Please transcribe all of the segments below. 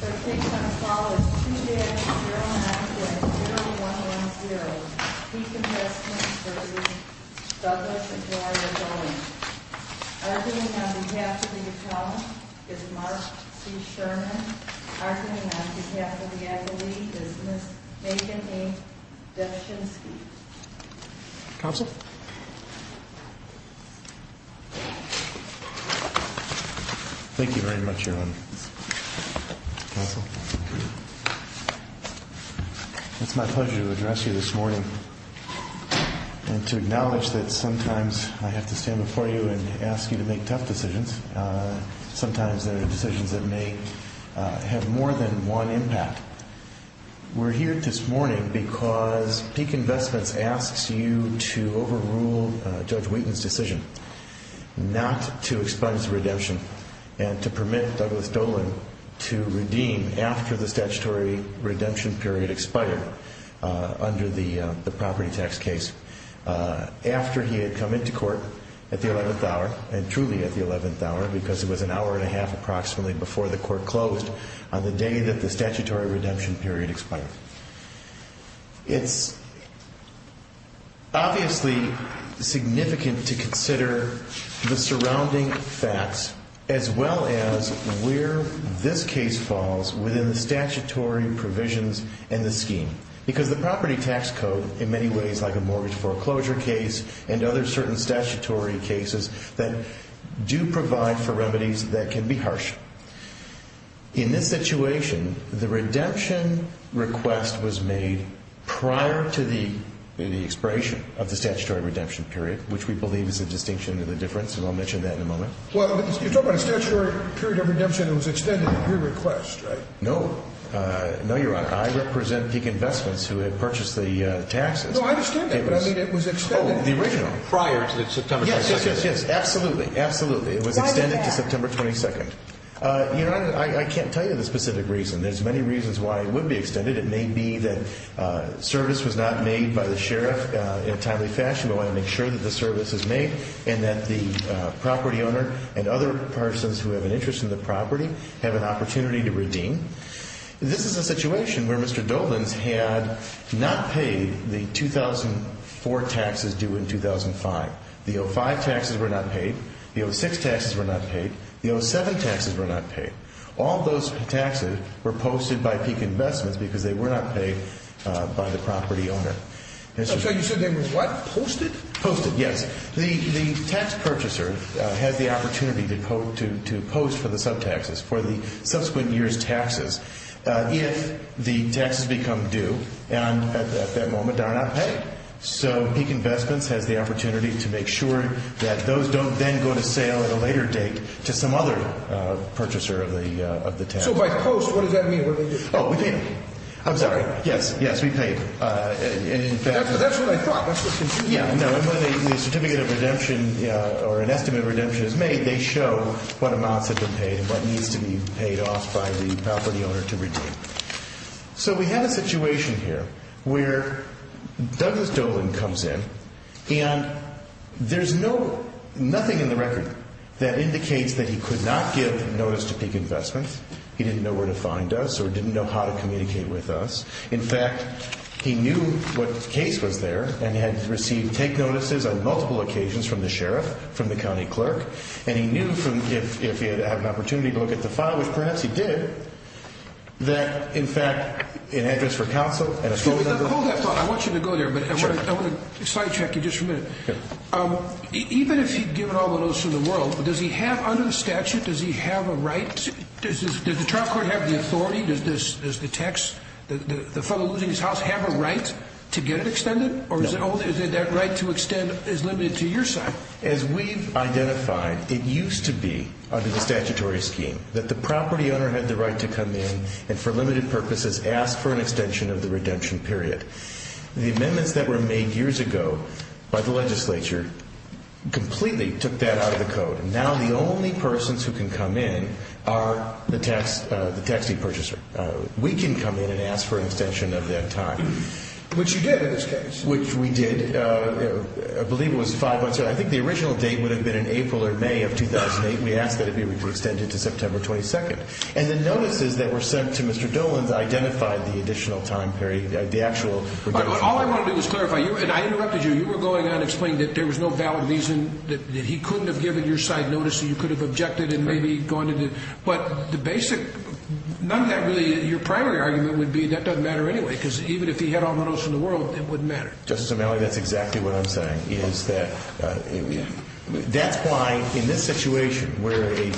Arguing on behalf of the attorney is Mark C. Sherman. Arguing on behalf of the advocate is Ms. Megan A. Deschinski. Counsel. Thank you very much, Erwin. Counsel. It's my pleasure to address you this morning and to acknowledge that sometimes I have to stand before you and ask you to make tough decisions. Sometimes they're decisions that may have more than one impact. We're here this morning because Peak Investments asks you to overrule Judge Wheaton's decision not to expunge the redemption and to permit Douglas Dohlen to redeem after the statutory redemption period expired under the property tax case. It's obviously significant to consider the surrounding facts as well as where this case falls within the statutory provisions in the scheme. Because the property tax code, in many ways like a mortgage foreclosure case and other certain statutory cases that do provide for remedies that can be harsh. In this situation, the redemption request was made prior to the expiration of the statutory redemption period, which we believe is a distinction of the difference, and I'll mention that in a moment. Well, you're talking about a statutory period of redemption that was extended at your request, right? No. No, Your Honor. I represent Peak Investments, who had purchased the taxes. No, I understand that, but I mean it was extended prior to September 22nd. Yes, yes, yes. Absolutely. Absolutely. It was extended to September 22nd. Why did that happen? This is a situation where Mr. Dolan's had not paid the 2004 taxes due in 2005. The 05 taxes were not paid. The 06 taxes were not paid. The 07 taxes were not paid. All those taxes were posted by Peak Investments because they were not paid by the property owner. So you said they were what? Posted? Posted, yes. The tax purchaser has the opportunity to post for the sub-taxes, for the subsequent year's taxes. If the taxes become due at that moment, they are not paid. So Peak Investments has the opportunity to make sure that those don't then go to sale at a later date to some other purchaser of the taxes. So by post, what does that mean? What do they do? Oh, we pay them. I'm sorry. Yes, yes, we pay them. That's what I thought. That's what confused me. Yeah, no, and when a certificate of redemption or an estimate of redemption is made, they show what amounts have been paid and what needs to be paid off by the property owner to redeem. So we have a situation here where Douglas Dolan comes in and there's nothing in the record that indicates that he could not give notice to Peak Investments. He didn't know where to find us or didn't know how to communicate with us. In fact, he knew what case was there and had received take notices on multiple occasions from the sheriff, from the county clerk, and he knew if he had an opportunity to look at the file, which perhaps he did, that in fact, an address for counsel and a phone number... Does the trial court have the authority? Does the text, the fellow losing his house, have a right to get it extended? Or is that right to extend is limited to your side? As we've identified, it used to be under the statutory scheme that the property owner had the right to come in and for limited purposes ask for an extension of the redemption period. The amendments that were made years ago by the legislature completely took that out of the code. Now the only persons who can come in are the taxi purchaser. We can come in and ask for an extension of that time. Which you did in this case. Which we did. I believe it was five months ago. I think the original date would have been in April or May of 2008. We asked that it be extended to September 22nd. And the notices that were sent to Mr. Dolan identified the additional time period, the actual... All I want to do is clarify, and I interrupted you. You were going on explaining that there was no valid reason that he couldn't have given your side notice and you could have objected and maybe gone to the... But the basic... None of that really... Your primary argument would be that doesn't matter anyway. Because even if he had all the notice in the world, it wouldn't matter. Justice O'Malley, that's exactly what I'm saying. That's why in this situation where a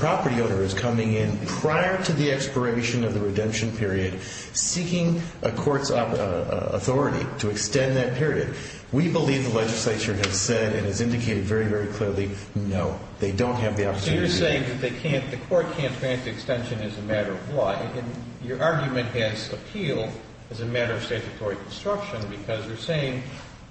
property owner is coming in prior to the expiration of the redemption period, seeking a court's authority to extend that period, we believe the legislature has said and has indicated very, very clearly, no. They don't have the opportunity... So you're saying that they can't, the court can't grant the extension as a matter of law. And your argument has appealed as a matter of statutory construction because you're saying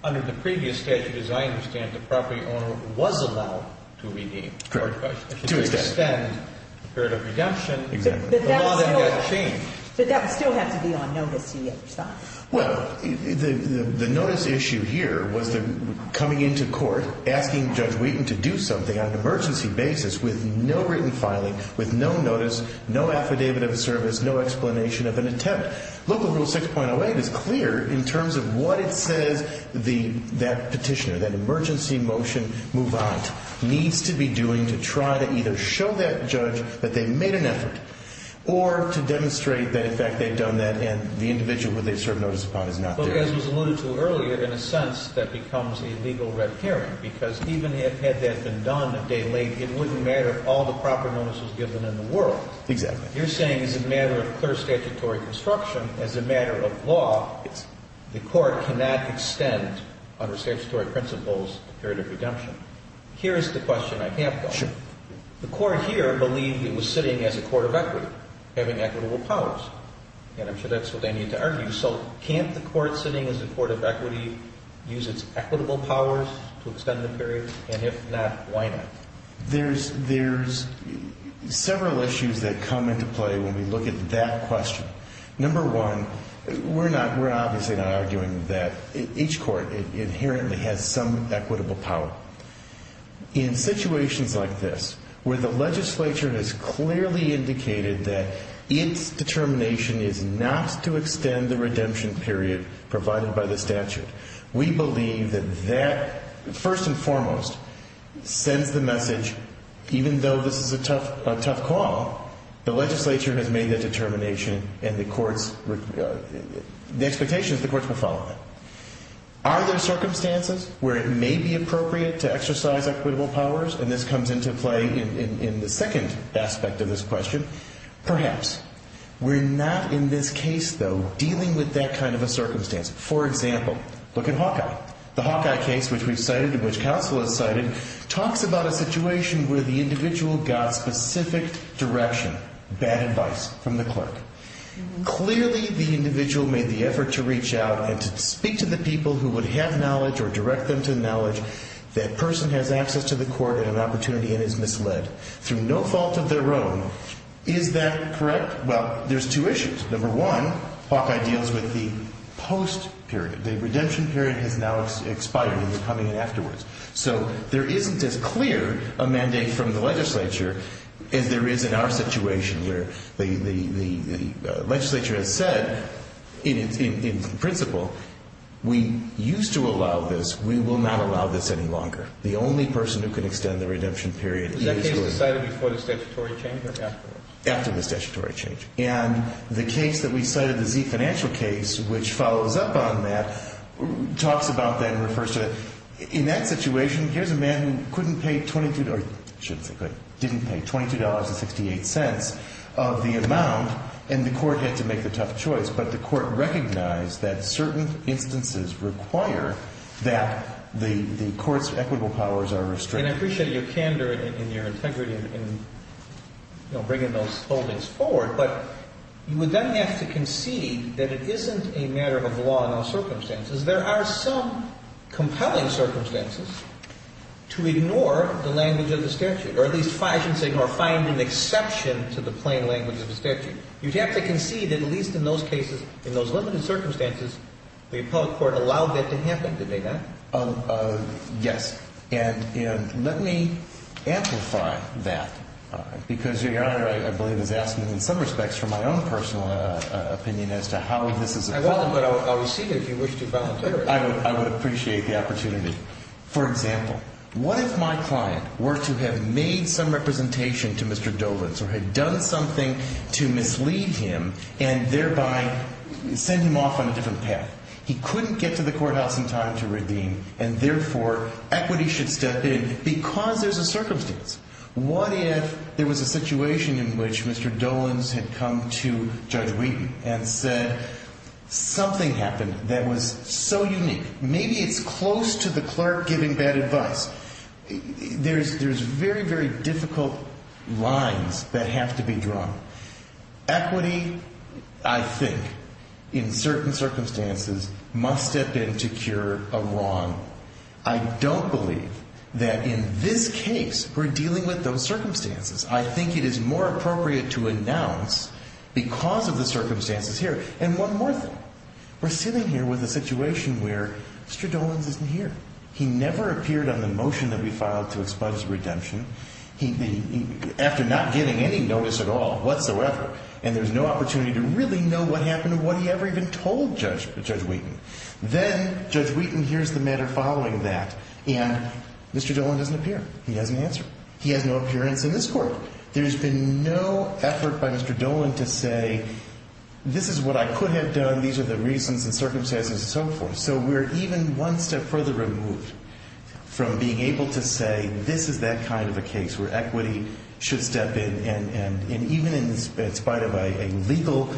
under the previous statute, as I understand it, the property owner was allowed to redeem. Correct. To extend the period of redemption. Exactly. The law then got changed. But that would still have to be on notice to the other side. Well, the notice issue here was the coming into court, asking Judge Wheaton to do something on an emergency basis with no written filing, with no notice, no affidavit of service, no explanation of an attempt. Local Rule 6.08 is clear in terms of what it says that petitioner, that emergency motion move-on needs to be doing to try to either show that judge that they made an effort or to demonstrate that in fact they've done that and the individual that they've served notice upon is not there. But as was alluded to earlier, in a sense, that becomes a legal red herring because even had that been done a day late, it wouldn't matter if all the proper notice was given in the world. Exactly. You're saying as a matter of clear statutory construction, as a matter of law, the court cannot extend under statutory principles the period of redemption. Here's the question I have, though. Sure. The court here believed it was sitting as a court of equity, having equitable powers. And I'm sure that's what they need to argue. So can't the court sitting as a court of equity use its equitable powers to extend the period? And if not, why not? There's several issues that come into play when we look at that question. Number one, we're obviously not arguing that each court inherently has some equitable power. In situations like this, where the legislature has clearly indicated that its determination is not to extend the redemption period provided by the statute, we believe that that, first and foremost, sends the message, even though this is a tough call, the legislature has made that determination and the courts, the expectation is the courts will follow that. Are there circumstances where it may be appropriate to exercise equitable powers? And this comes into play in the second aspect of this question. Perhaps. We're not in this case, though, dealing with that kind of a circumstance. For example, look at Hawkeye. The Hawkeye case, which we've cited and which counsel has cited, talks about a situation where the individual got specific direction, bad advice from the clerk. Clearly, the individual made the effort to reach out and to speak to the people who would have knowledge or direct them to knowledge. That person has access to the court and an opportunity and is misled through no fault of their own. Is that correct? Well, there's two issues. Number one, Hawkeye deals with the post-period. The redemption period has now expired and is coming in afterwards. So there isn't as clear a mandate from the legislature as there is in our situation where the legislature has said, in principle, we used to allow this. We will not allow this any longer. The only person who can extend the redemption period is the individual. After the statutory change. And the case that we cited, the Z financial case, which follows up on that, talks about that and refers to it. In that situation, here's a man who couldn't pay 22 or didn't pay $22.68 of the amount, and the court had to make the tough choice. But the court recognized that certain instances require that the court's equitable powers are restricted. And I appreciate your candor and your integrity in bringing those holdings forward. But you would then have to concede that it isn't a matter of law and circumstances. There are some compelling circumstances to ignore the language of the statute. Or at least find an exception to the plain language of the statute. You'd have to concede that at least in those cases, in those limited circumstances, the appellate court allowed that to happen, did they not? Yes. And let me amplify that. Because Your Honor, I believe, has asked me in some respects for my own personal opinion as to how this is appropriate. I would appreciate the opportunity. For example, what if my client were to have made some representation to Mr. Dolenz or had done something to mislead him and thereby send him off on a different path? He couldn't get to the courthouse in time to redeem, and therefore, equity should step in because there's a circumstance. What if there was a situation in which Mr. Dolenz had come to Judge Wheaton and said, something happened that was so unique, maybe it's close to the clerk giving bad advice. There's very, very difficult lines that have to be drawn. Equity, I think, in certain circumstances, must step in to cure a wrong. I don't believe that in this case, we're dealing with those circumstances. I think it is more appropriate to announce because of the circumstances here. And one more thing. We're sitting here with a situation where Mr. Dolenz isn't here. He never appeared on the motion that we filed to expunge redemption. After not getting any notice at all, whatsoever, and there's no opportunity to really know what happened or what he ever even told Judge Wheaton. Then, Judge Wheaton hears the matter following that, and Mr. Dolenz doesn't appear. He doesn't answer. He has no appearance in this court. There's been no effort by Mr. Dolenz to say, this is what I could have done, these are the reasons and circumstances and so forth. So we're even one step further removed from being able to say, this is that kind of a case where equity should step in, and even in spite of a legal,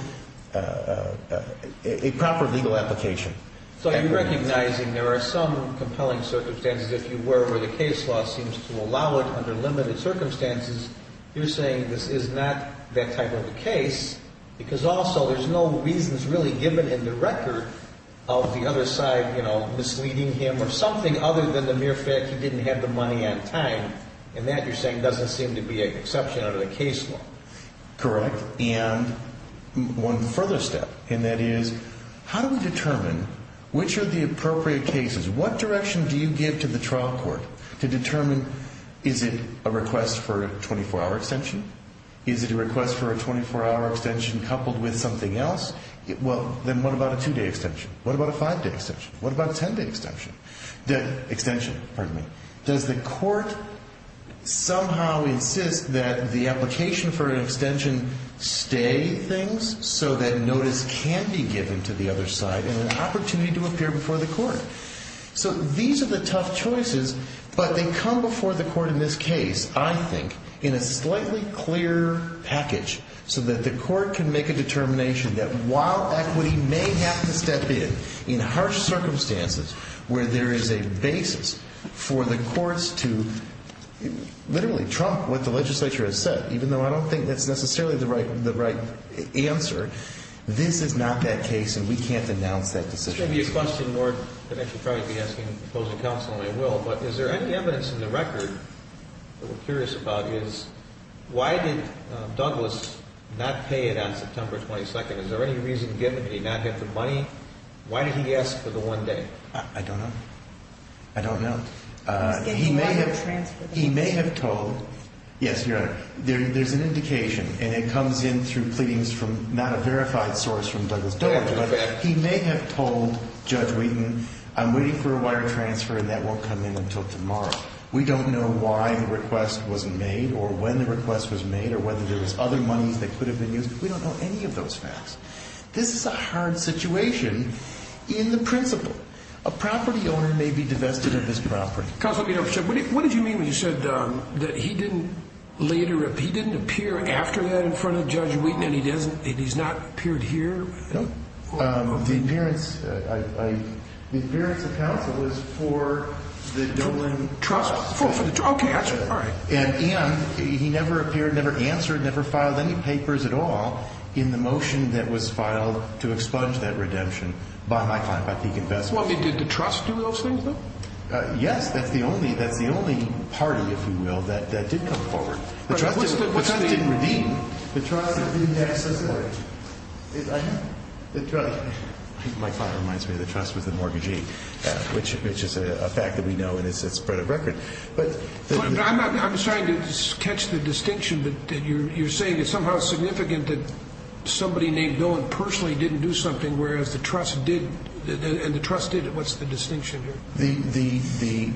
a proper legal application. So you're recognizing there are some compelling circumstances, if you were, where the case law seems to allow it under limited circumstances. You're saying this is not that type of a case because also there's no reasons really given in the record of the other side misleading him or something other than the mere fact he didn't have the money on time. And that, you're saying, doesn't seem to be an exception under the case law. Correct. And one further step, and that is, how do we determine which are the appropriate cases? What direction do you give to the trial court to determine, is it a request for a 24-hour extension? Is it a request for a 24-hour extension coupled with something else? Well, then what about a two-day extension? What about a five-day extension? What about a 10-day extension? Extension, pardon me. Does the court somehow insist that the application for an extension stay things so that notice can be given to the other side and an opportunity to appear before the court? So these are the tough choices, but they come before the court in this case, I think, in a slightly clearer package so that the court can make a determination that while equity may have to step in in harsh circumstances where there is a basis for the courts to literally trump what the legislature has said, even though I don't think that's necessarily the right answer, this is not that case and we can't announce that decision. This shouldn't be a question, Lord, that I should probably be asking opposing counsel, and I will, but is there any evidence in the record that we're curious about is why did Douglas not pay it on September 22nd? Is there any reason given that he not get the money? Why did he ask for the one day? I don't know. I don't know. He may have told, yes, Your Honor, there's an indication and it comes in through pleadings from not a verified source from Douglas. He may have told Judge Wheaton, I'm waiting for a wire transfer and that won't come in until tomorrow. We don't know why the request wasn't made or when the request was made or whether there was other monies that could have been used. We don't know any of those facts. This is a hard situation in the principle. A property owner may be divested of his property. What did you mean when you said that he didn't appear after that in front of Judge Wheaton and he's not appeared here? The appearance of counsel was for the Dublin Trust. And he never appeared, never answered, never filed any papers at all in the motion that was filed to expunge that redemption by my client, by Peak Investments. Yes, that's the only, that's the only party, if you will, that did come forward. The trust didn't redeem. The trust didn't access the mortgage. My father reminds me of the trust with the mortgagee, which is a fact that we know and it's spread of record. I'm sorry to catch the distinction, but you're saying it's somehow significant that somebody named Bill personally didn't do something, whereas the trust did. And the trust did. What's the distinction here? The, the, the,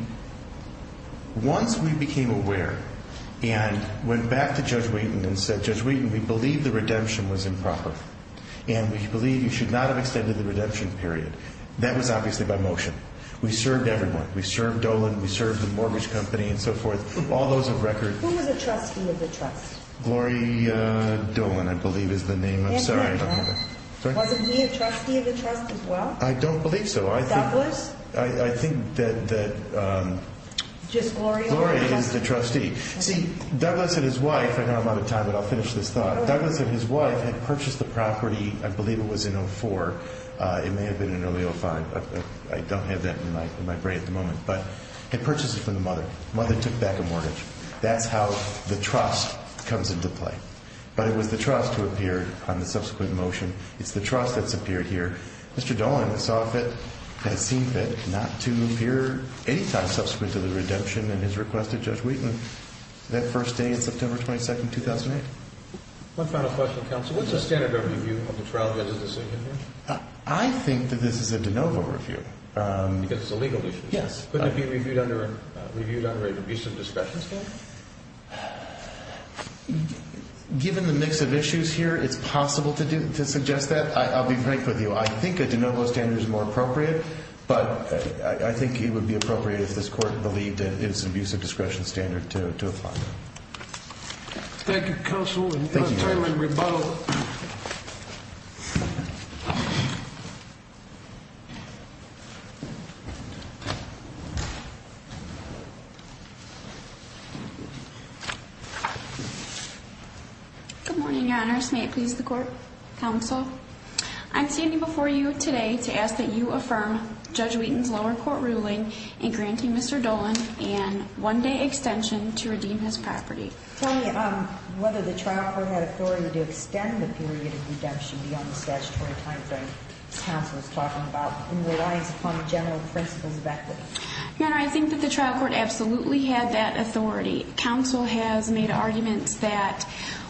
once we became aware and went back to Judge Wheaton and said, Judge Wheaton, we believe the redemption was improper. And we believe you should not have extended the redemption period. That was obviously by motion. We served everyone. We served Dolan. We served the mortgage company and so forth. All those of record. Who was a trustee of the trust? Gloria Dolan, I believe, is the name. I'm sorry. Wasn't he a trustee of the trust as well? I don't believe so. Douglas? I, I think that, that, um. Just Gloria? Gloria is the trustee. See, Douglas and his wife, I know I'm out of time, but I'll finish this thought. Douglas and his wife had purchased the property, I believe it was in 04. It may have been in early 05. I don't have that in my, in my brain at the moment, but had purchased it from the mother. Mother took back a mortgage. That's how the trust comes into play. But it was the trust who appeared on the subsequent motion. It's the trust that's appeared here. Mr. Dolan saw fit, had seen fit, not to appear any time subsequent to the redemption and his request of Judge Wheaton that first day in September 22, 2008. One final question, counsel. What's the standard of review of the trial judge's decision here? I think that this is a de novo review. Because it's a legal issue. Yes. Couldn't it be reviewed under, reviewed under an abuse of discretion standard? Given the mix of issues here, it's possible to do, to suggest that. I'll be frank with you. I think a de novo standard is more appropriate, but I think it would be appropriate if this court believed that it is an abuse of discretion standard to apply. Thank you, counsel. Ms. Dolan, you have a term in rebuttal. Good morning, Your Honors. May it please the court, counsel. I'm standing before you today to ask that you affirm Judge Wheaton's lower court ruling in granting Mr. Dolan an one-day extension to redeem his property. Tell me whether the trial court had authority to extend the period of redemption beyond the statutory timeframe the counsel is talking about in reliance upon the general principles of equity. Your Honor, I think that the trial court absolutely had that authority. Counsel has made arguments that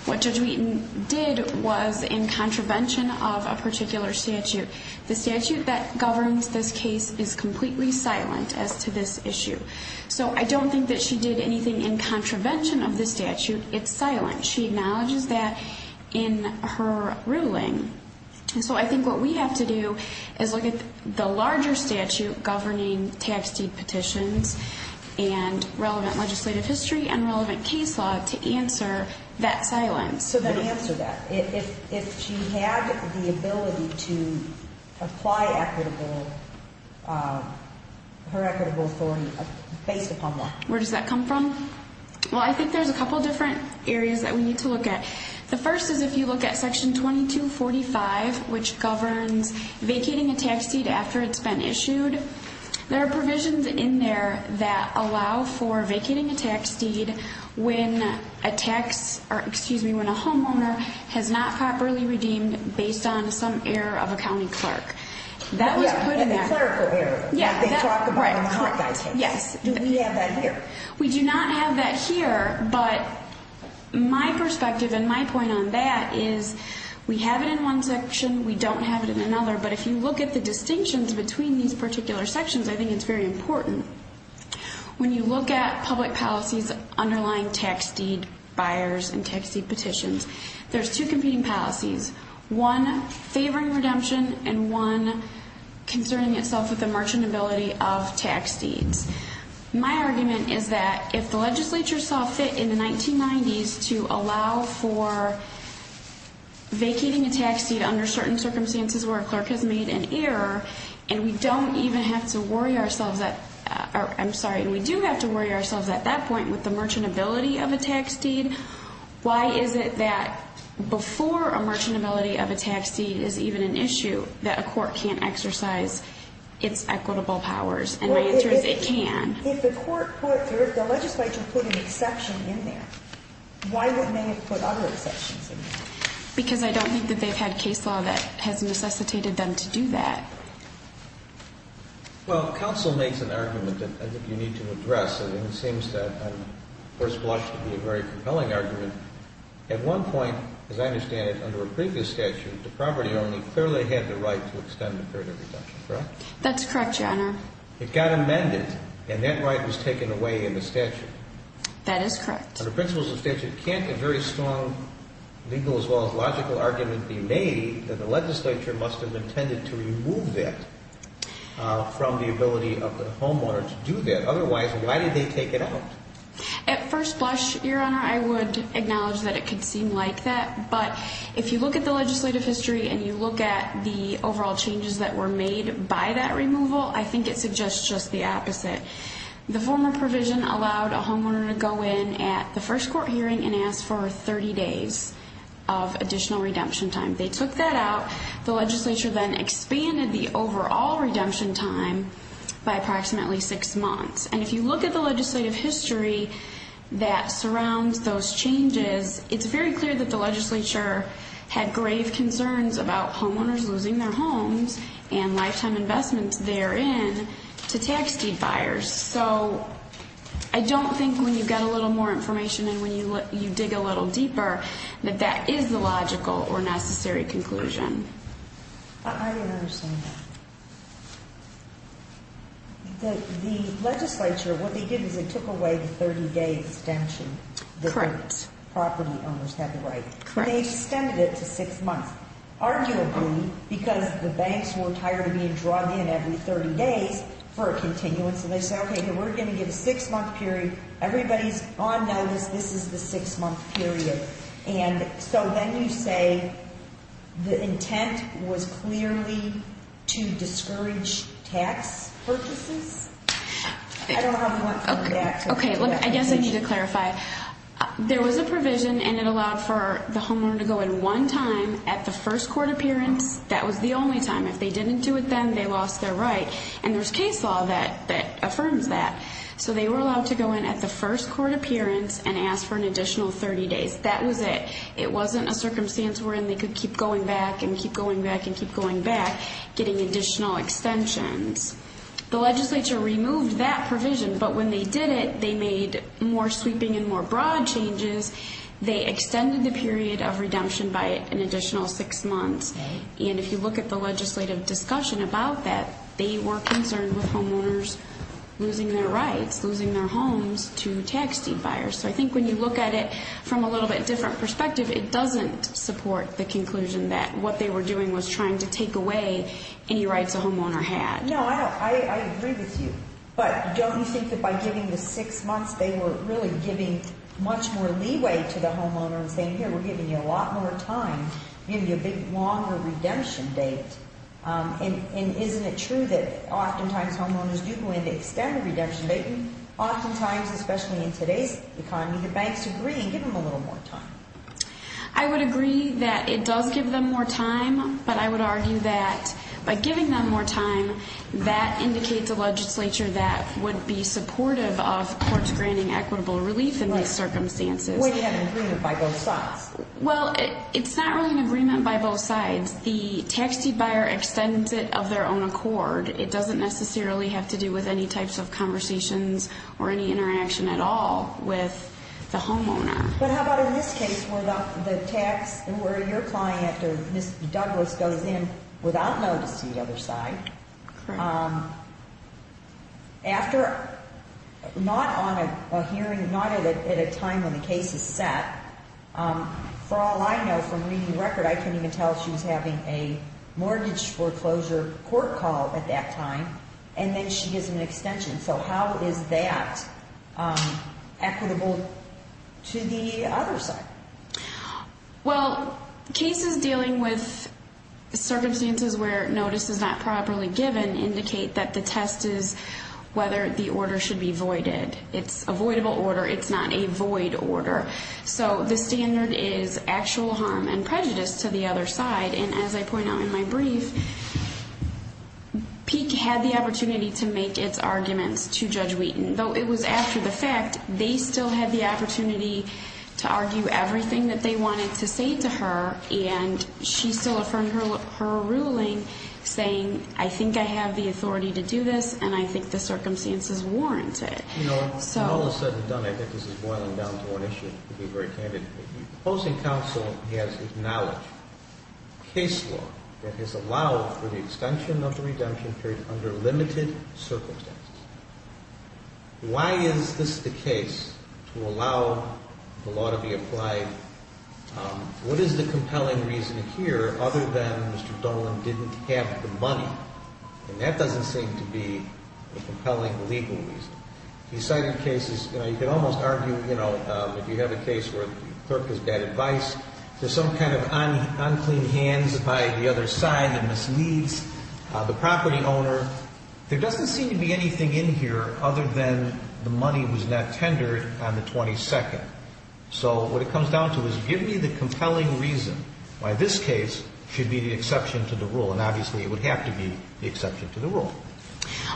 what Judge Wheaton did was in contravention of a particular statute. The statute that governs this case is completely silent as to this issue. So I don't think that she did anything in contravention of this statute. It's silent. She acknowledges that in her ruling. So I think what we have to do is look at the larger statute governing tax deed petitions and relevant legislative history and relevant case law to answer that silence. So then answer that. If she had the ability to apply her equitable authority based upon what? Where does that come from? Well, I think there's a couple different areas that we need to look at. The first is if you look at Section 2245, which governs vacating a tax deed after it's been issued, there are provisions in there that allow for vacating a tax deed when a tax or, excuse me, when a homeowner has not properly redeemed based on some error of a county clerk. That was put in there. Yeah, a clerical error. Yeah, that's right. They talked about it in the hot guys case. Yes. Do we have that here? We do not have that here. But my perspective and my point on that is we have it in one section. We don't have it in another. But if you look at the distinctions between these particular sections, I think it's very important. When you look at public policies underlying tax deed buyers and tax deed petitions, there's two competing policies, one favoring redemption and one concerning itself with the marginability of tax deeds. My argument is that if the legislature saw fit in the 1990s to allow for vacating a tax deed under certain circumstances where a clerk has made an error and we do have to worry ourselves at that point with the marginability of a tax deed, why is it that before a marginability of a tax deed is even an issue that a court can't exercise its equitable powers? And my answer is it can. If the legislature put an exception in there, why wouldn't they have put other exceptions in there? Because I don't think that they've had case law that has necessitated them to do that. Well, counsel makes an argument that I think you need to address, and it seems that I'm first blushed to be a very compelling argument. At one point, as I understand it, under a previous statute, the property owner clearly had the right to extend the period of redemption, correct? That's correct, Your Honor. It got amended, and that right was taken away in the statute. That is correct. Under principles of the statute, can't a very strong legal as well as logical argument be made that the legislature must have intended to remove that from the ability of the homeowner to do that? Otherwise, why did they take it out? At first blush, Your Honor, I would acknowledge that it could seem like that, but if you look at the legislative history and you look at the overall changes that were made by that removal, I think it suggests just the opposite. The former provision allowed a homeowner to go in at the first court hearing and ask for 30 days of additional redemption time. They took that out. The legislature then expanded the overall redemption time by approximately six months. And if you look at the legislative history that surrounds those changes, it's very clear that the legislature had grave concerns about homeowners losing their homes and lifetime investments therein to tax deed buyers. So I don't think when you get a little more information and when you dig a little deeper that that is the logical or necessary conclusion. I didn't understand that. The legislature, what they did is they took away the 30-day extension that property owners had the right. Correct. They extended it to six months, arguably because the banks were tired of being drawn in every 30 days for a continuance, and they said, okay, we're going to give a six-month period. Everybody is on notice this is the six-month period. And so then you say the intent was clearly to discourage tax purchases? I don't have one for that. Okay, I guess I need to clarify. There was a provision, and it allowed for the homeowner to go in one time at the first court appearance. That was the only time. If they didn't do it then, they lost their right. And there's case law that affirms that. So they were allowed to go in at the first court appearance and ask for an additional 30 days. That was it. It wasn't a circumstance wherein they could keep going back and keep going back and keep going back, getting additional extensions. The legislature removed that provision, but when they did it, they made more sweeping and more broad changes. They extended the period of redemption by an additional six months. And if you look at the legislative discussion about that, they were concerned with homeowners losing their rights, losing their homes to tax deed buyers. So I think when you look at it from a little bit different perspective, it doesn't support the conclusion that what they were doing was trying to take away any rights a homeowner had. No, I agree with you. But don't you think that by giving the six months, they were really giving much more leeway to the homeowner and saying, Here, we're giving you a lot more time, giving you a big longer redemption date? And isn't it true that oftentimes homeowners do go into extended redemption, but oftentimes, especially in today's economy, the banks agree and give them a little more time? I would agree that it does give them more time, but I would argue that by giving them more time, that indicates a legislature that would be supportive of courts granting equitable relief in these circumstances. Would it have an agreement by both sides? Well, it's not really an agreement by both sides. The tax deed buyer extends it of their own accord. It doesn't necessarily have to do with any types of conversations or any interaction at all with the homeowner. But how about in this case where the tax, where your client or Ms. Douglas goes in without notice to the other side? Correct. After not on a hearing, not at a time when the case is set, for all I know from reading the record, I couldn't even tell she was having a mortgage foreclosure court call at that time, and then she gives them an extension. So how is that equitable to the other side? Well, cases dealing with circumstances where notice is not properly given indicate that the test is whether the order should be voided. It's a voidable order. It's not a void order. So the standard is actual harm and prejudice to the other side. And as I point out in my brief, Peek had the opportunity to make its arguments to Judge Wheaton. Though it was after the fact, they still had the opportunity to argue everything that they wanted to say to her, and she still affirmed her ruling saying, I think I have the authority to do this, and I think the circumstances warrant it. When all is said and done, I think this is boiling down to one issue. I'll be very candid. The opposing counsel has acknowledged case law that has allowed for the extension of the redemption period under limited circumstances. Why is this the case to allow the law to be applied? What is the compelling reason here other than Mr. Dolan didn't have the money? And that doesn't seem to be a compelling legal reason. He cited cases, you know, you could almost argue, you know, if you have a case where the clerk has bad advice, there's some kind of unclean hands by the other side that misleads the property owner. There doesn't seem to be anything in here other than the money was not tendered on the 22nd. So what it comes down to is give me the compelling reason why this case should be the exception to the rule, and obviously it would have to be the exception to the rule.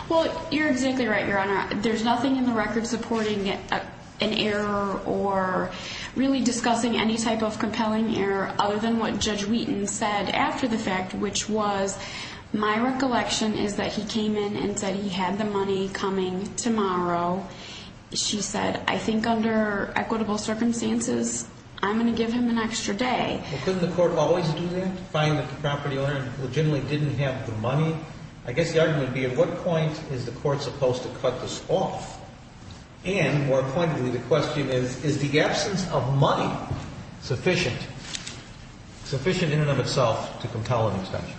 Well, you're exactly right, Your Honor. There's nothing in the record supporting an error or really discussing any type of compelling error other than what Judge Wheaton said after the fact, which was, my recollection is that he came in and said he had the money coming tomorrow. She said, I think under equitable circumstances, I'm going to give him an extra day. Couldn't the court always do that, find that the property owner legitimately didn't have the money? I guess the argument would be, at what point is the court supposed to cut this off? And more pointedly, the question is, is the absence of money sufficient in and of itself to compel an extension?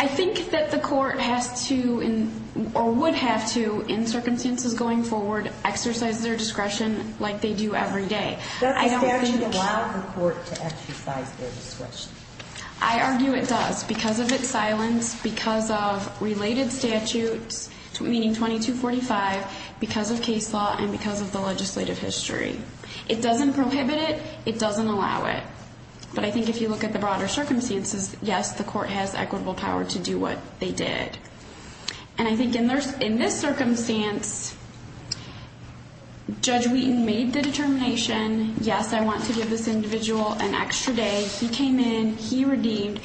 I think that the court has to or would have to, in circumstances going forward, exercise their discretion like they do every day. Does the statute allow the court to exercise their discretion? I argue it does because of its silence, because of related statutes, meaning 2245, because of case law and because of the legislative history. It doesn't prohibit it. It doesn't allow it. But I think if you look at the broader circumstances, yes, the court has equitable power to do what they did. And I think in this circumstance, Judge Wheaton made the determination, yes, I want to give this individual an extra day. He came in, he redeemed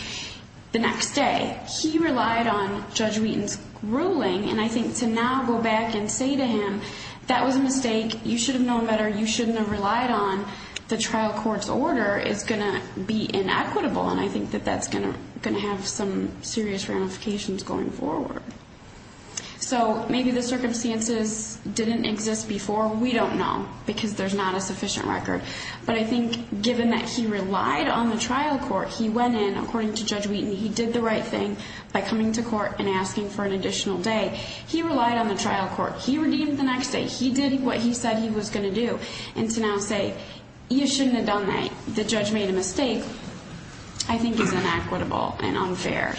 the next day. He relied on Judge Wheaton's ruling. And I think to now go back and say to him, that was a mistake, you should have known better, you shouldn't have relied on, the trial court's order is going to be inequitable. And I think that that's going to have some serious ramifications going forward. So maybe the circumstances didn't exist before, we don't know, because there's not a sufficient record. But I think given that he relied on the trial court, he went in, according to Judge Wheaton, he did the right thing by coming to court and asking for an additional day. He relied on the trial court. He redeemed the next day. He did what he said he was going to do. And to now say, you shouldn't have done that, the judge made a mistake, I think is inequitable and unfair.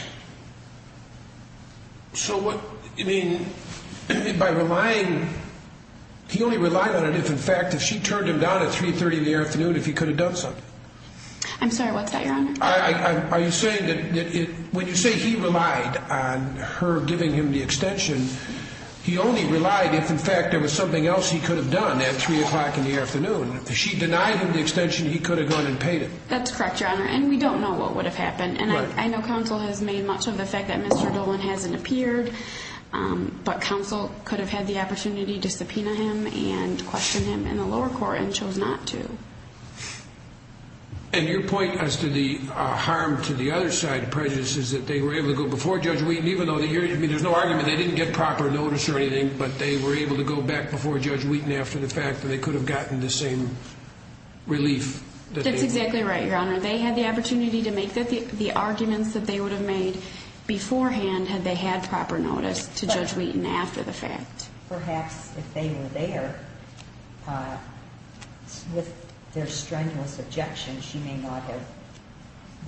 So what, I mean, by relying, he only relied on it if, in fact, if she turned him down at 3.30 in the afternoon, if he could have done something. I'm sorry, what's that, Your Honor? Are you saying that when you say he relied on her giving him the extension, he only relied if, in fact, there was something else he could have done at 3 o'clock in the afternoon. If she denied him the extension, he could have gone and paid it. That's correct, Your Honor. And we don't know what would have happened. And I know counsel has made much of the fact that Mr. Dolan hasn't appeared, but counsel could have had the opportunity to subpoena him and question him in the lower court and chose not to. And your point as to the harm to the other side of prejudice is that they were able to go before Judge Wheaton, even though, I mean, there's no argument they didn't get proper notice or anything, but they were able to go back before Judge Wheaton after the fact that they could have gotten the same relief. That's exactly right, Your Honor. They had the opportunity to make the arguments that they would have made beforehand had they had proper notice to Judge Wheaton after the fact. But perhaps if they were there with their strenuous objections, she may not have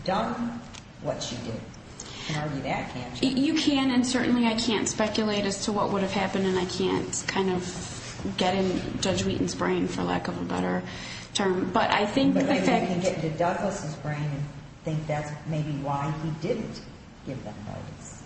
done what she did. You can argue that, can't you? You can, and certainly I can't speculate as to what would have happened, and I can't kind of get in Judge Wheaton's brain, for lack of a better term. But I think the fact... But you can get into Douglas' brain and think that's maybe why he didn't give them notice.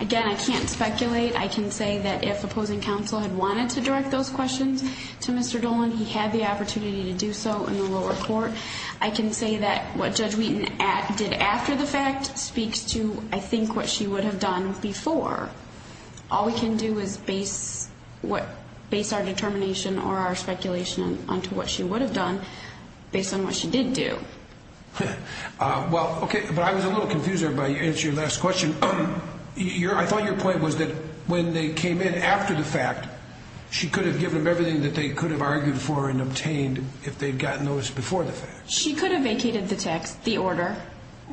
Again, I can't speculate. I can say that if opposing counsel had wanted to direct those questions to Mr. Dolan, he had the opportunity to do so in the lower court. I can say that what Judge Wheaton did after the fact speaks to, I think, what she would have done before. All we can do is base our determination or our speculation onto what she would have done based on what she did do. Well, okay, but I was a little confused there by your answer to your last question. I thought your point was that when they came in after the fact, she could have given them everything that they could have argued for and obtained if they had gotten notice before the fact. She could have vacated the text, the order,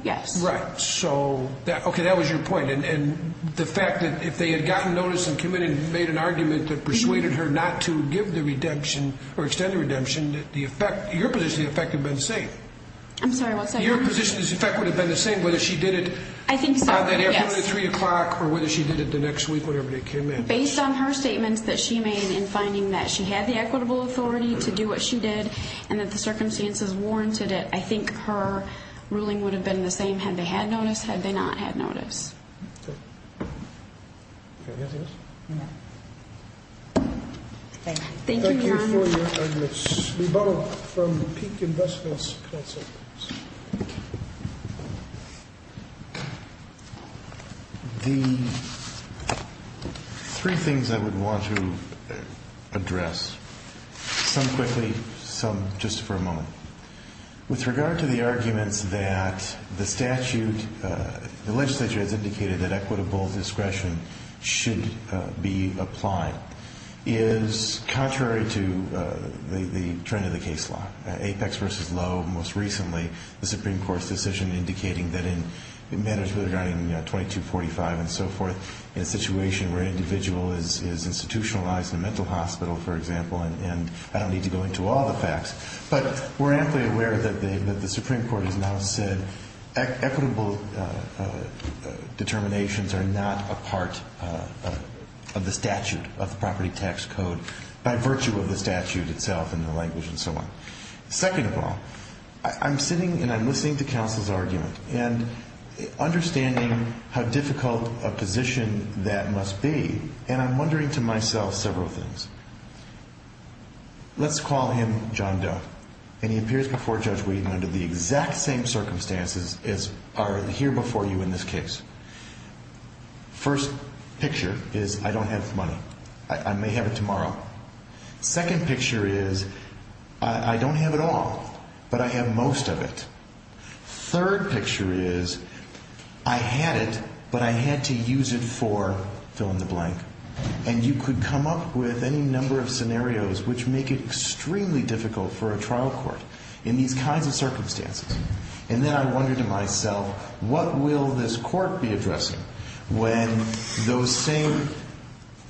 yes. Right. So, okay, that was your point. And the fact that if they had gotten notice and came in and made an argument that persuaded her not to give the redemption or extend the redemption, your position of the effect would have been the same. I'm sorry, what's that? Your position is the effect would have been the same whether she did it... I think so, yes. ...on that afternoon at 3 o'clock or whether she did it the next week, whatever day it came in. Based on her statements that she made in finding that she had the equitable authority to do what she did and that the circumstances warranted it, I think her ruling would have been the same had they had notice, had they not had notice. Okay. Do you have anything else? Thank you. Thank you, Your Honor. Thank you for your arguments. We borrow from the Peak Investments Council. With regard to the arguments that the statute, the legislature has indicated that equitable discretion should be applied, is contrary to the trend of the case law. Apex v. Lowe most recently, the Supreme Court's decision indicating that in management regarding 2245 and so forth, in a situation where an individual is institutionalized in a mental hospital, for example, and I don't need to go into all the facts, but we're amply aware that the Supreme Court has now said equitable determinations are not a part of the statute, of the property tax code by virtue of the statute itself and the language and so on. Second of all, I'm sitting and I'm listening to counsel's argument and understanding how difficult a position that must be, and I'm wondering to myself several things. Let's call him John Doe. And he appears before Judge Whedon under the exact same circumstances as are here before you in this case. First picture is I don't have money. I may have it tomorrow. Second picture is I don't have it all, but I have most of it. Third picture is I had it, but I had to use it for fill in the blank. And you could come up with any number of scenarios which make it extremely difficult for a trial court in these kinds of circumstances. And then I wonder to myself, what will this court be addressing when those same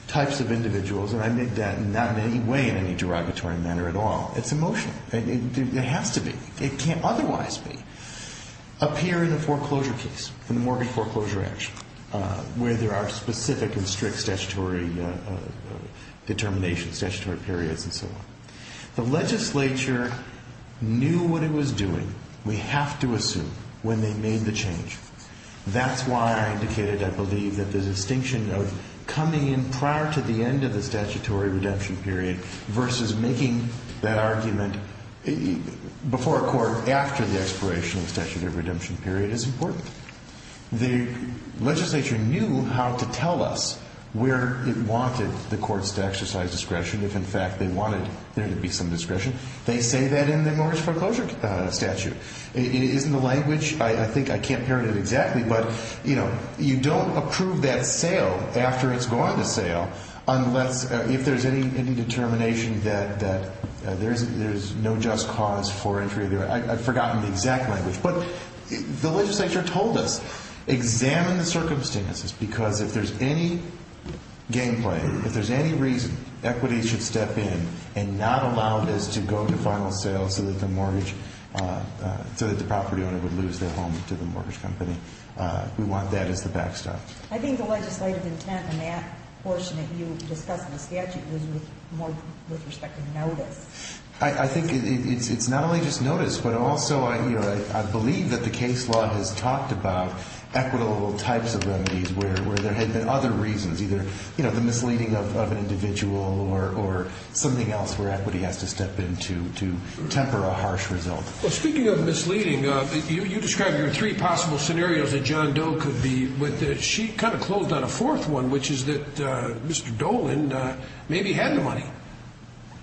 types of individuals, and I admit that not in any way in any derogatory manner at all, it's emotional. It has to be. It can't otherwise be. Appear in the foreclosure case, in the Morgan foreclosure action, where there are specific and strict statutory determinations, statutory periods and so on. The legislature knew what it was doing, we have to assume, when they made the change. That's why I indicated I believe that the distinction of coming in prior to the end of the statutory redemption period versus making that argument before a court after the expiration of the statutory redemption period is important. The legislature knew how to tell us where it wanted the courts to exercise discretion, if in fact they wanted there to be some discretion. They say that in the mortgage foreclosure statute. It is in the language, I think I can't parrot it exactly, but you don't approve that sale after it's gone to sale unless if there's any determination that there's no just cause for entry. I've forgotten the exact language. But the legislature told us, examine the circumstances because if there's any game play, if there's any reason, equities should step in and not allow this to go to final sale so that the property owner would lose their home to the mortgage company. We want that as the backstop. I think the legislative intent in that portion that you discussed in the statute was more with respect to notice. I think it's not only just notice, but also I believe that the case law has talked about equitable types of remedies where there had been other reasons, either the misleading of an individual or something else where equity has to step in to temper a harsh result. Speaking of misleading, you described your three possible scenarios that John Doe could be with it. She kind of closed on a fourth one, which is that Mr. Dolan maybe had the money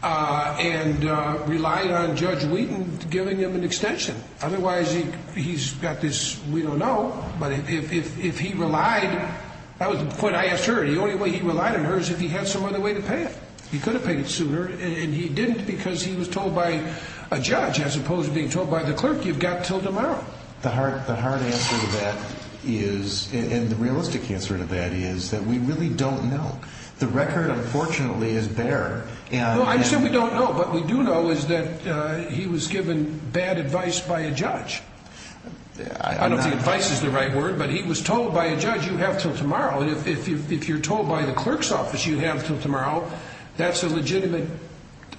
and relied on Judge Wheaton giving him an extension. Otherwise, he's got this, we don't know, but if he relied, that was the point I asked her. The only way he relied on her is if he had some other way to pay it. He could have paid it sooner, and he didn't because he was told by a judge as opposed to being told by the clerk you've got until tomorrow. The hard answer to that is, and the realistic answer to that is that we really don't know. The record, unfortunately, is bare. I said we don't know. What we do know is that he was given bad advice by a judge. I don't think advice is the right word, but he was told by a judge you have until tomorrow. If you're told by the clerk's office you have until tomorrow, that's a legitimate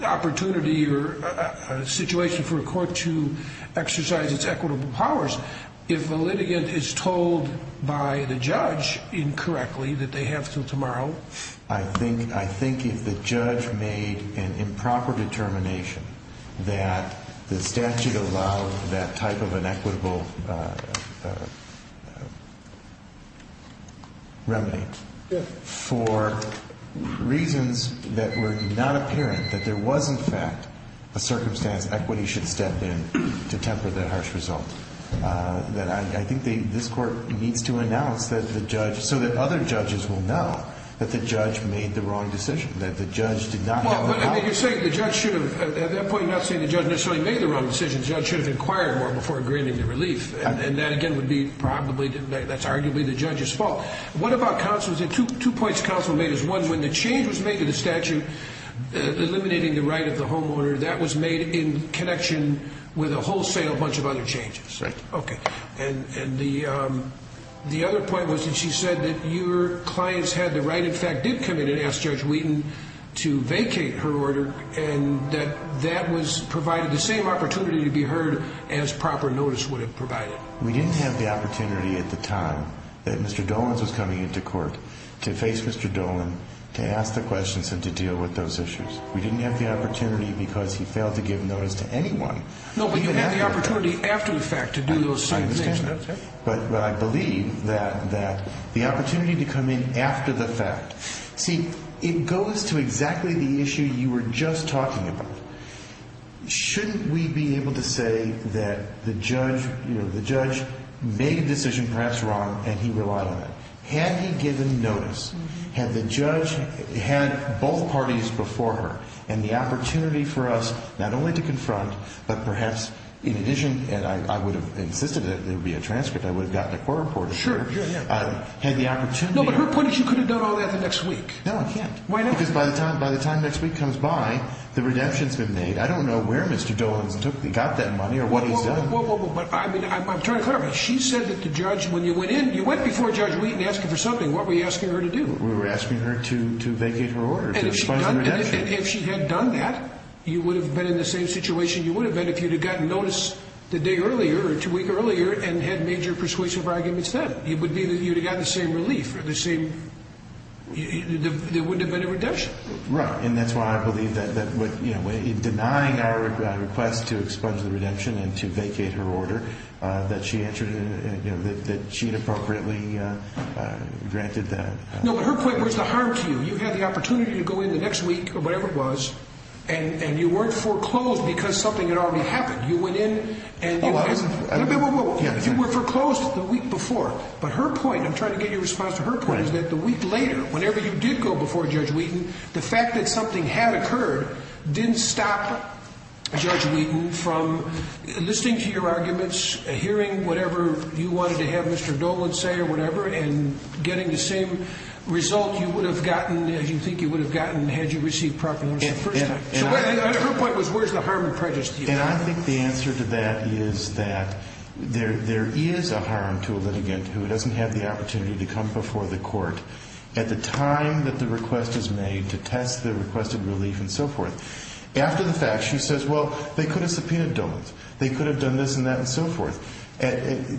opportunity or situation for a court to exercise its equitable powers. If a litigant is told by the judge incorrectly that they have until tomorrow. I think if the judge made an improper determination that the statute allowed that type of an equitable remedy for reasons that were not apparent, that there was, in fact, a circumstance equity should step in to temper that harsh result, then I think this court needs to announce that the judge, so that other judges will know that the judge made the wrong decision, that the judge did not have the power. You're saying the judge should have, at that point you're not saying the judge necessarily made the wrong decision. The judge should have inquired more before granting the relief. That, again, would be probably, that's arguably the judge's fault. What about counsel? Two points counsel made is, one, when the change was made to the statute eliminating the right of the homeowner, that was made in connection with a wholesale bunch of other changes. And the other point was that she said that your clients had the right, in fact, did come in and ask Judge Wheaton to vacate her order and that that was provided the same opportunity to be heard as proper notice would have provided. We didn't have the opportunity at the time that Mr. Dolenz was coming into court to face Mr. Dolenz, to ask the questions and to deal with those issues. We didn't have the opportunity because he failed to give notice to anyone. No, but you had the opportunity after the fact to do those same things. But I believe that the opportunity to come in after the fact. See, it goes to exactly the issue you were just talking about. Shouldn't we be able to say that the judge made a decision perhaps wrong and he relied on it? Had he given notice? Had the judge had both parties before her and the opportunity for us not only to confront, but perhaps in addition, and I would have insisted that there would be a transcript. I would have gotten a court report. Sure, sure, yeah. Had the opportunity. No, but her point is you could have done all that the next week. No, I can't. Why not? Because by the time next week comes by, the redemption's been made. I don't know where Mr. Dolenz got that money or what he's done. But I mean, I'm trying to clarify. She said that the judge, when you went in, you went before Judge Wheaton asking for something. What were you asking her to do? We were asking her to vacate her order, to expunge the redemption. And if she had done that, you would have been in the same situation you would have been if you had gotten notice the day earlier or two weeks earlier and had major persuasive arguments then. It would be that you would have gotten the same relief, the same, there wouldn't have been a redemption. Right, and that's why I believe that denying our request to expunge the redemption and to vacate her order, that she had appropriately granted that. No, but her point was the harm to you. You had the opportunity to go in the next week or whatever it was, and you weren't foreclosed because something had already happened. You went in and you were foreclosed the week before. But her point, and I'm trying to get your response to her point, is that the week later, whenever you did go before Judge Wheaton, the fact that something had occurred didn't stop Judge Wheaton from listening to your arguments, hearing whatever you wanted to have Mr. Dolan say or whatever, and getting the same result you would have gotten as you think you would have gotten had you received proclamation the first time. So her point was where's the harm and prejudice to you? And I think the answer to that is that there is a harm to a litigant who doesn't have the opportunity to come before the court at the time that the request is made to test the requested relief and so forth. After the fact, she says, well, they could have subpoenaed Dolan's. They could have done this and that and so forth.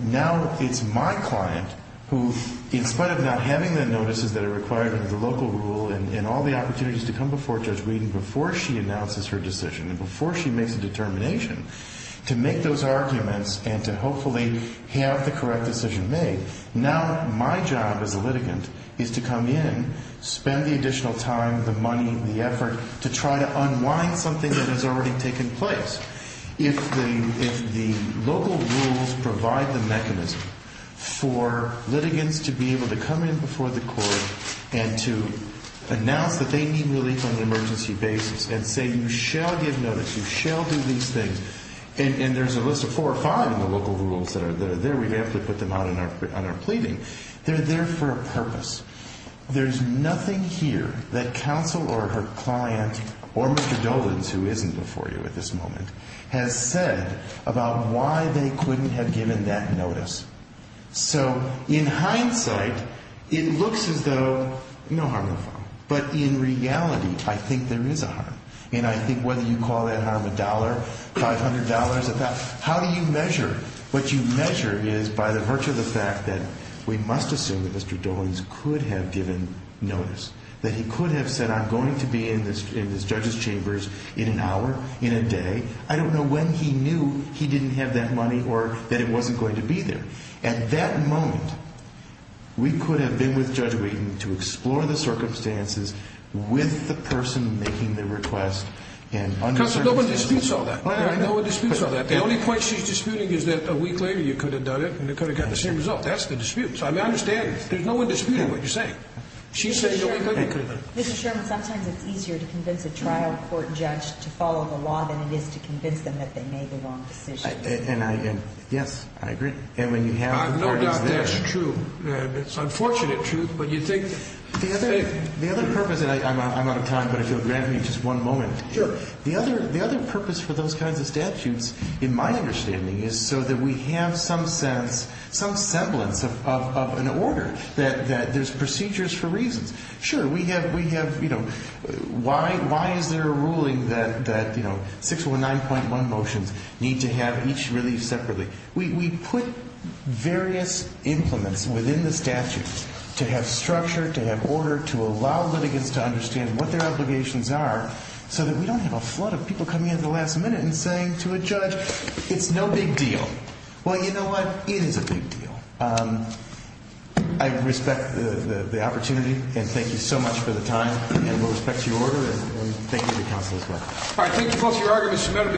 Now it's my client who, in spite of not having the notices that are required under the local rule and all the opportunities to come before Judge Wheaton before she announces her decision and before she makes a determination to make those arguments and to hopefully have the correct decision made, now my job as a litigant is to come in, spend the additional time, the money, the effort to try to unwind something that has already taken place. If the local rules provide the mechanism for litigants to be able to come in before the court and to announce that they need relief on an emergency basis and say you shall give notice, you shall do these things, and there's a list of four or five in the local rules that are there. We have to put them out on our pleading. They're there for a purpose. There's nothing here that counsel or her client or Mr. Dolan's, who isn't before you at this moment, has said about why they couldn't have given that notice. So in hindsight, it looks as though no harm no fault. But in reality, I think there is a harm. And I think whether you call that harm a dollar, $500, how do you measure? What you measure is by the virtue of the fact that we must assume that Mr. Dolan's could have given notice, that he could have said I'm going to be in this judge's chambers in an hour, in a day. I don't know when he knew he didn't have that money or that it wasn't going to be there. At that moment, we could have been with Judge Wheaton to explore the circumstances with the person making the request and under the circumstances. Counsel, no one disputes all that. I know. No one disputes all that. But the only point she's disputing is that a week later you could have done it and you could have got the same result. That's the dispute. So I understand. There's no one disputing what you're saying. She's saying a week later you could have done it. Mr. Sherman, sometimes it's easier to convince a trial court judge to follow the law than it is to convince them that they made the wrong decision. Yes, I agree. And when you have parties there. I have no doubt that's true. It's unfortunate truth. But you think the other purpose, and I'm out of time, but if you'll grant me just one moment. Sure. The other purpose for those kinds of statutes, in my understanding, is so that we have some sense, some semblance of an order, that there's procedures for reasons. Sure, we have, you know, why is there a ruling that, you know, 619.1 motions need to have each relief separately? We put various implements within the statutes to have structure, to have order, to allow litigants to understand what their obligations are, so that we don't have a flood of people coming in at the last minute and saying to a judge, it's no big deal. Well, you know what? It is a big deal. I respect the opportunity, and thank you so much for the time. And with respect to your order, and thank you to counsel as well. All right. Thank you both for your arguments.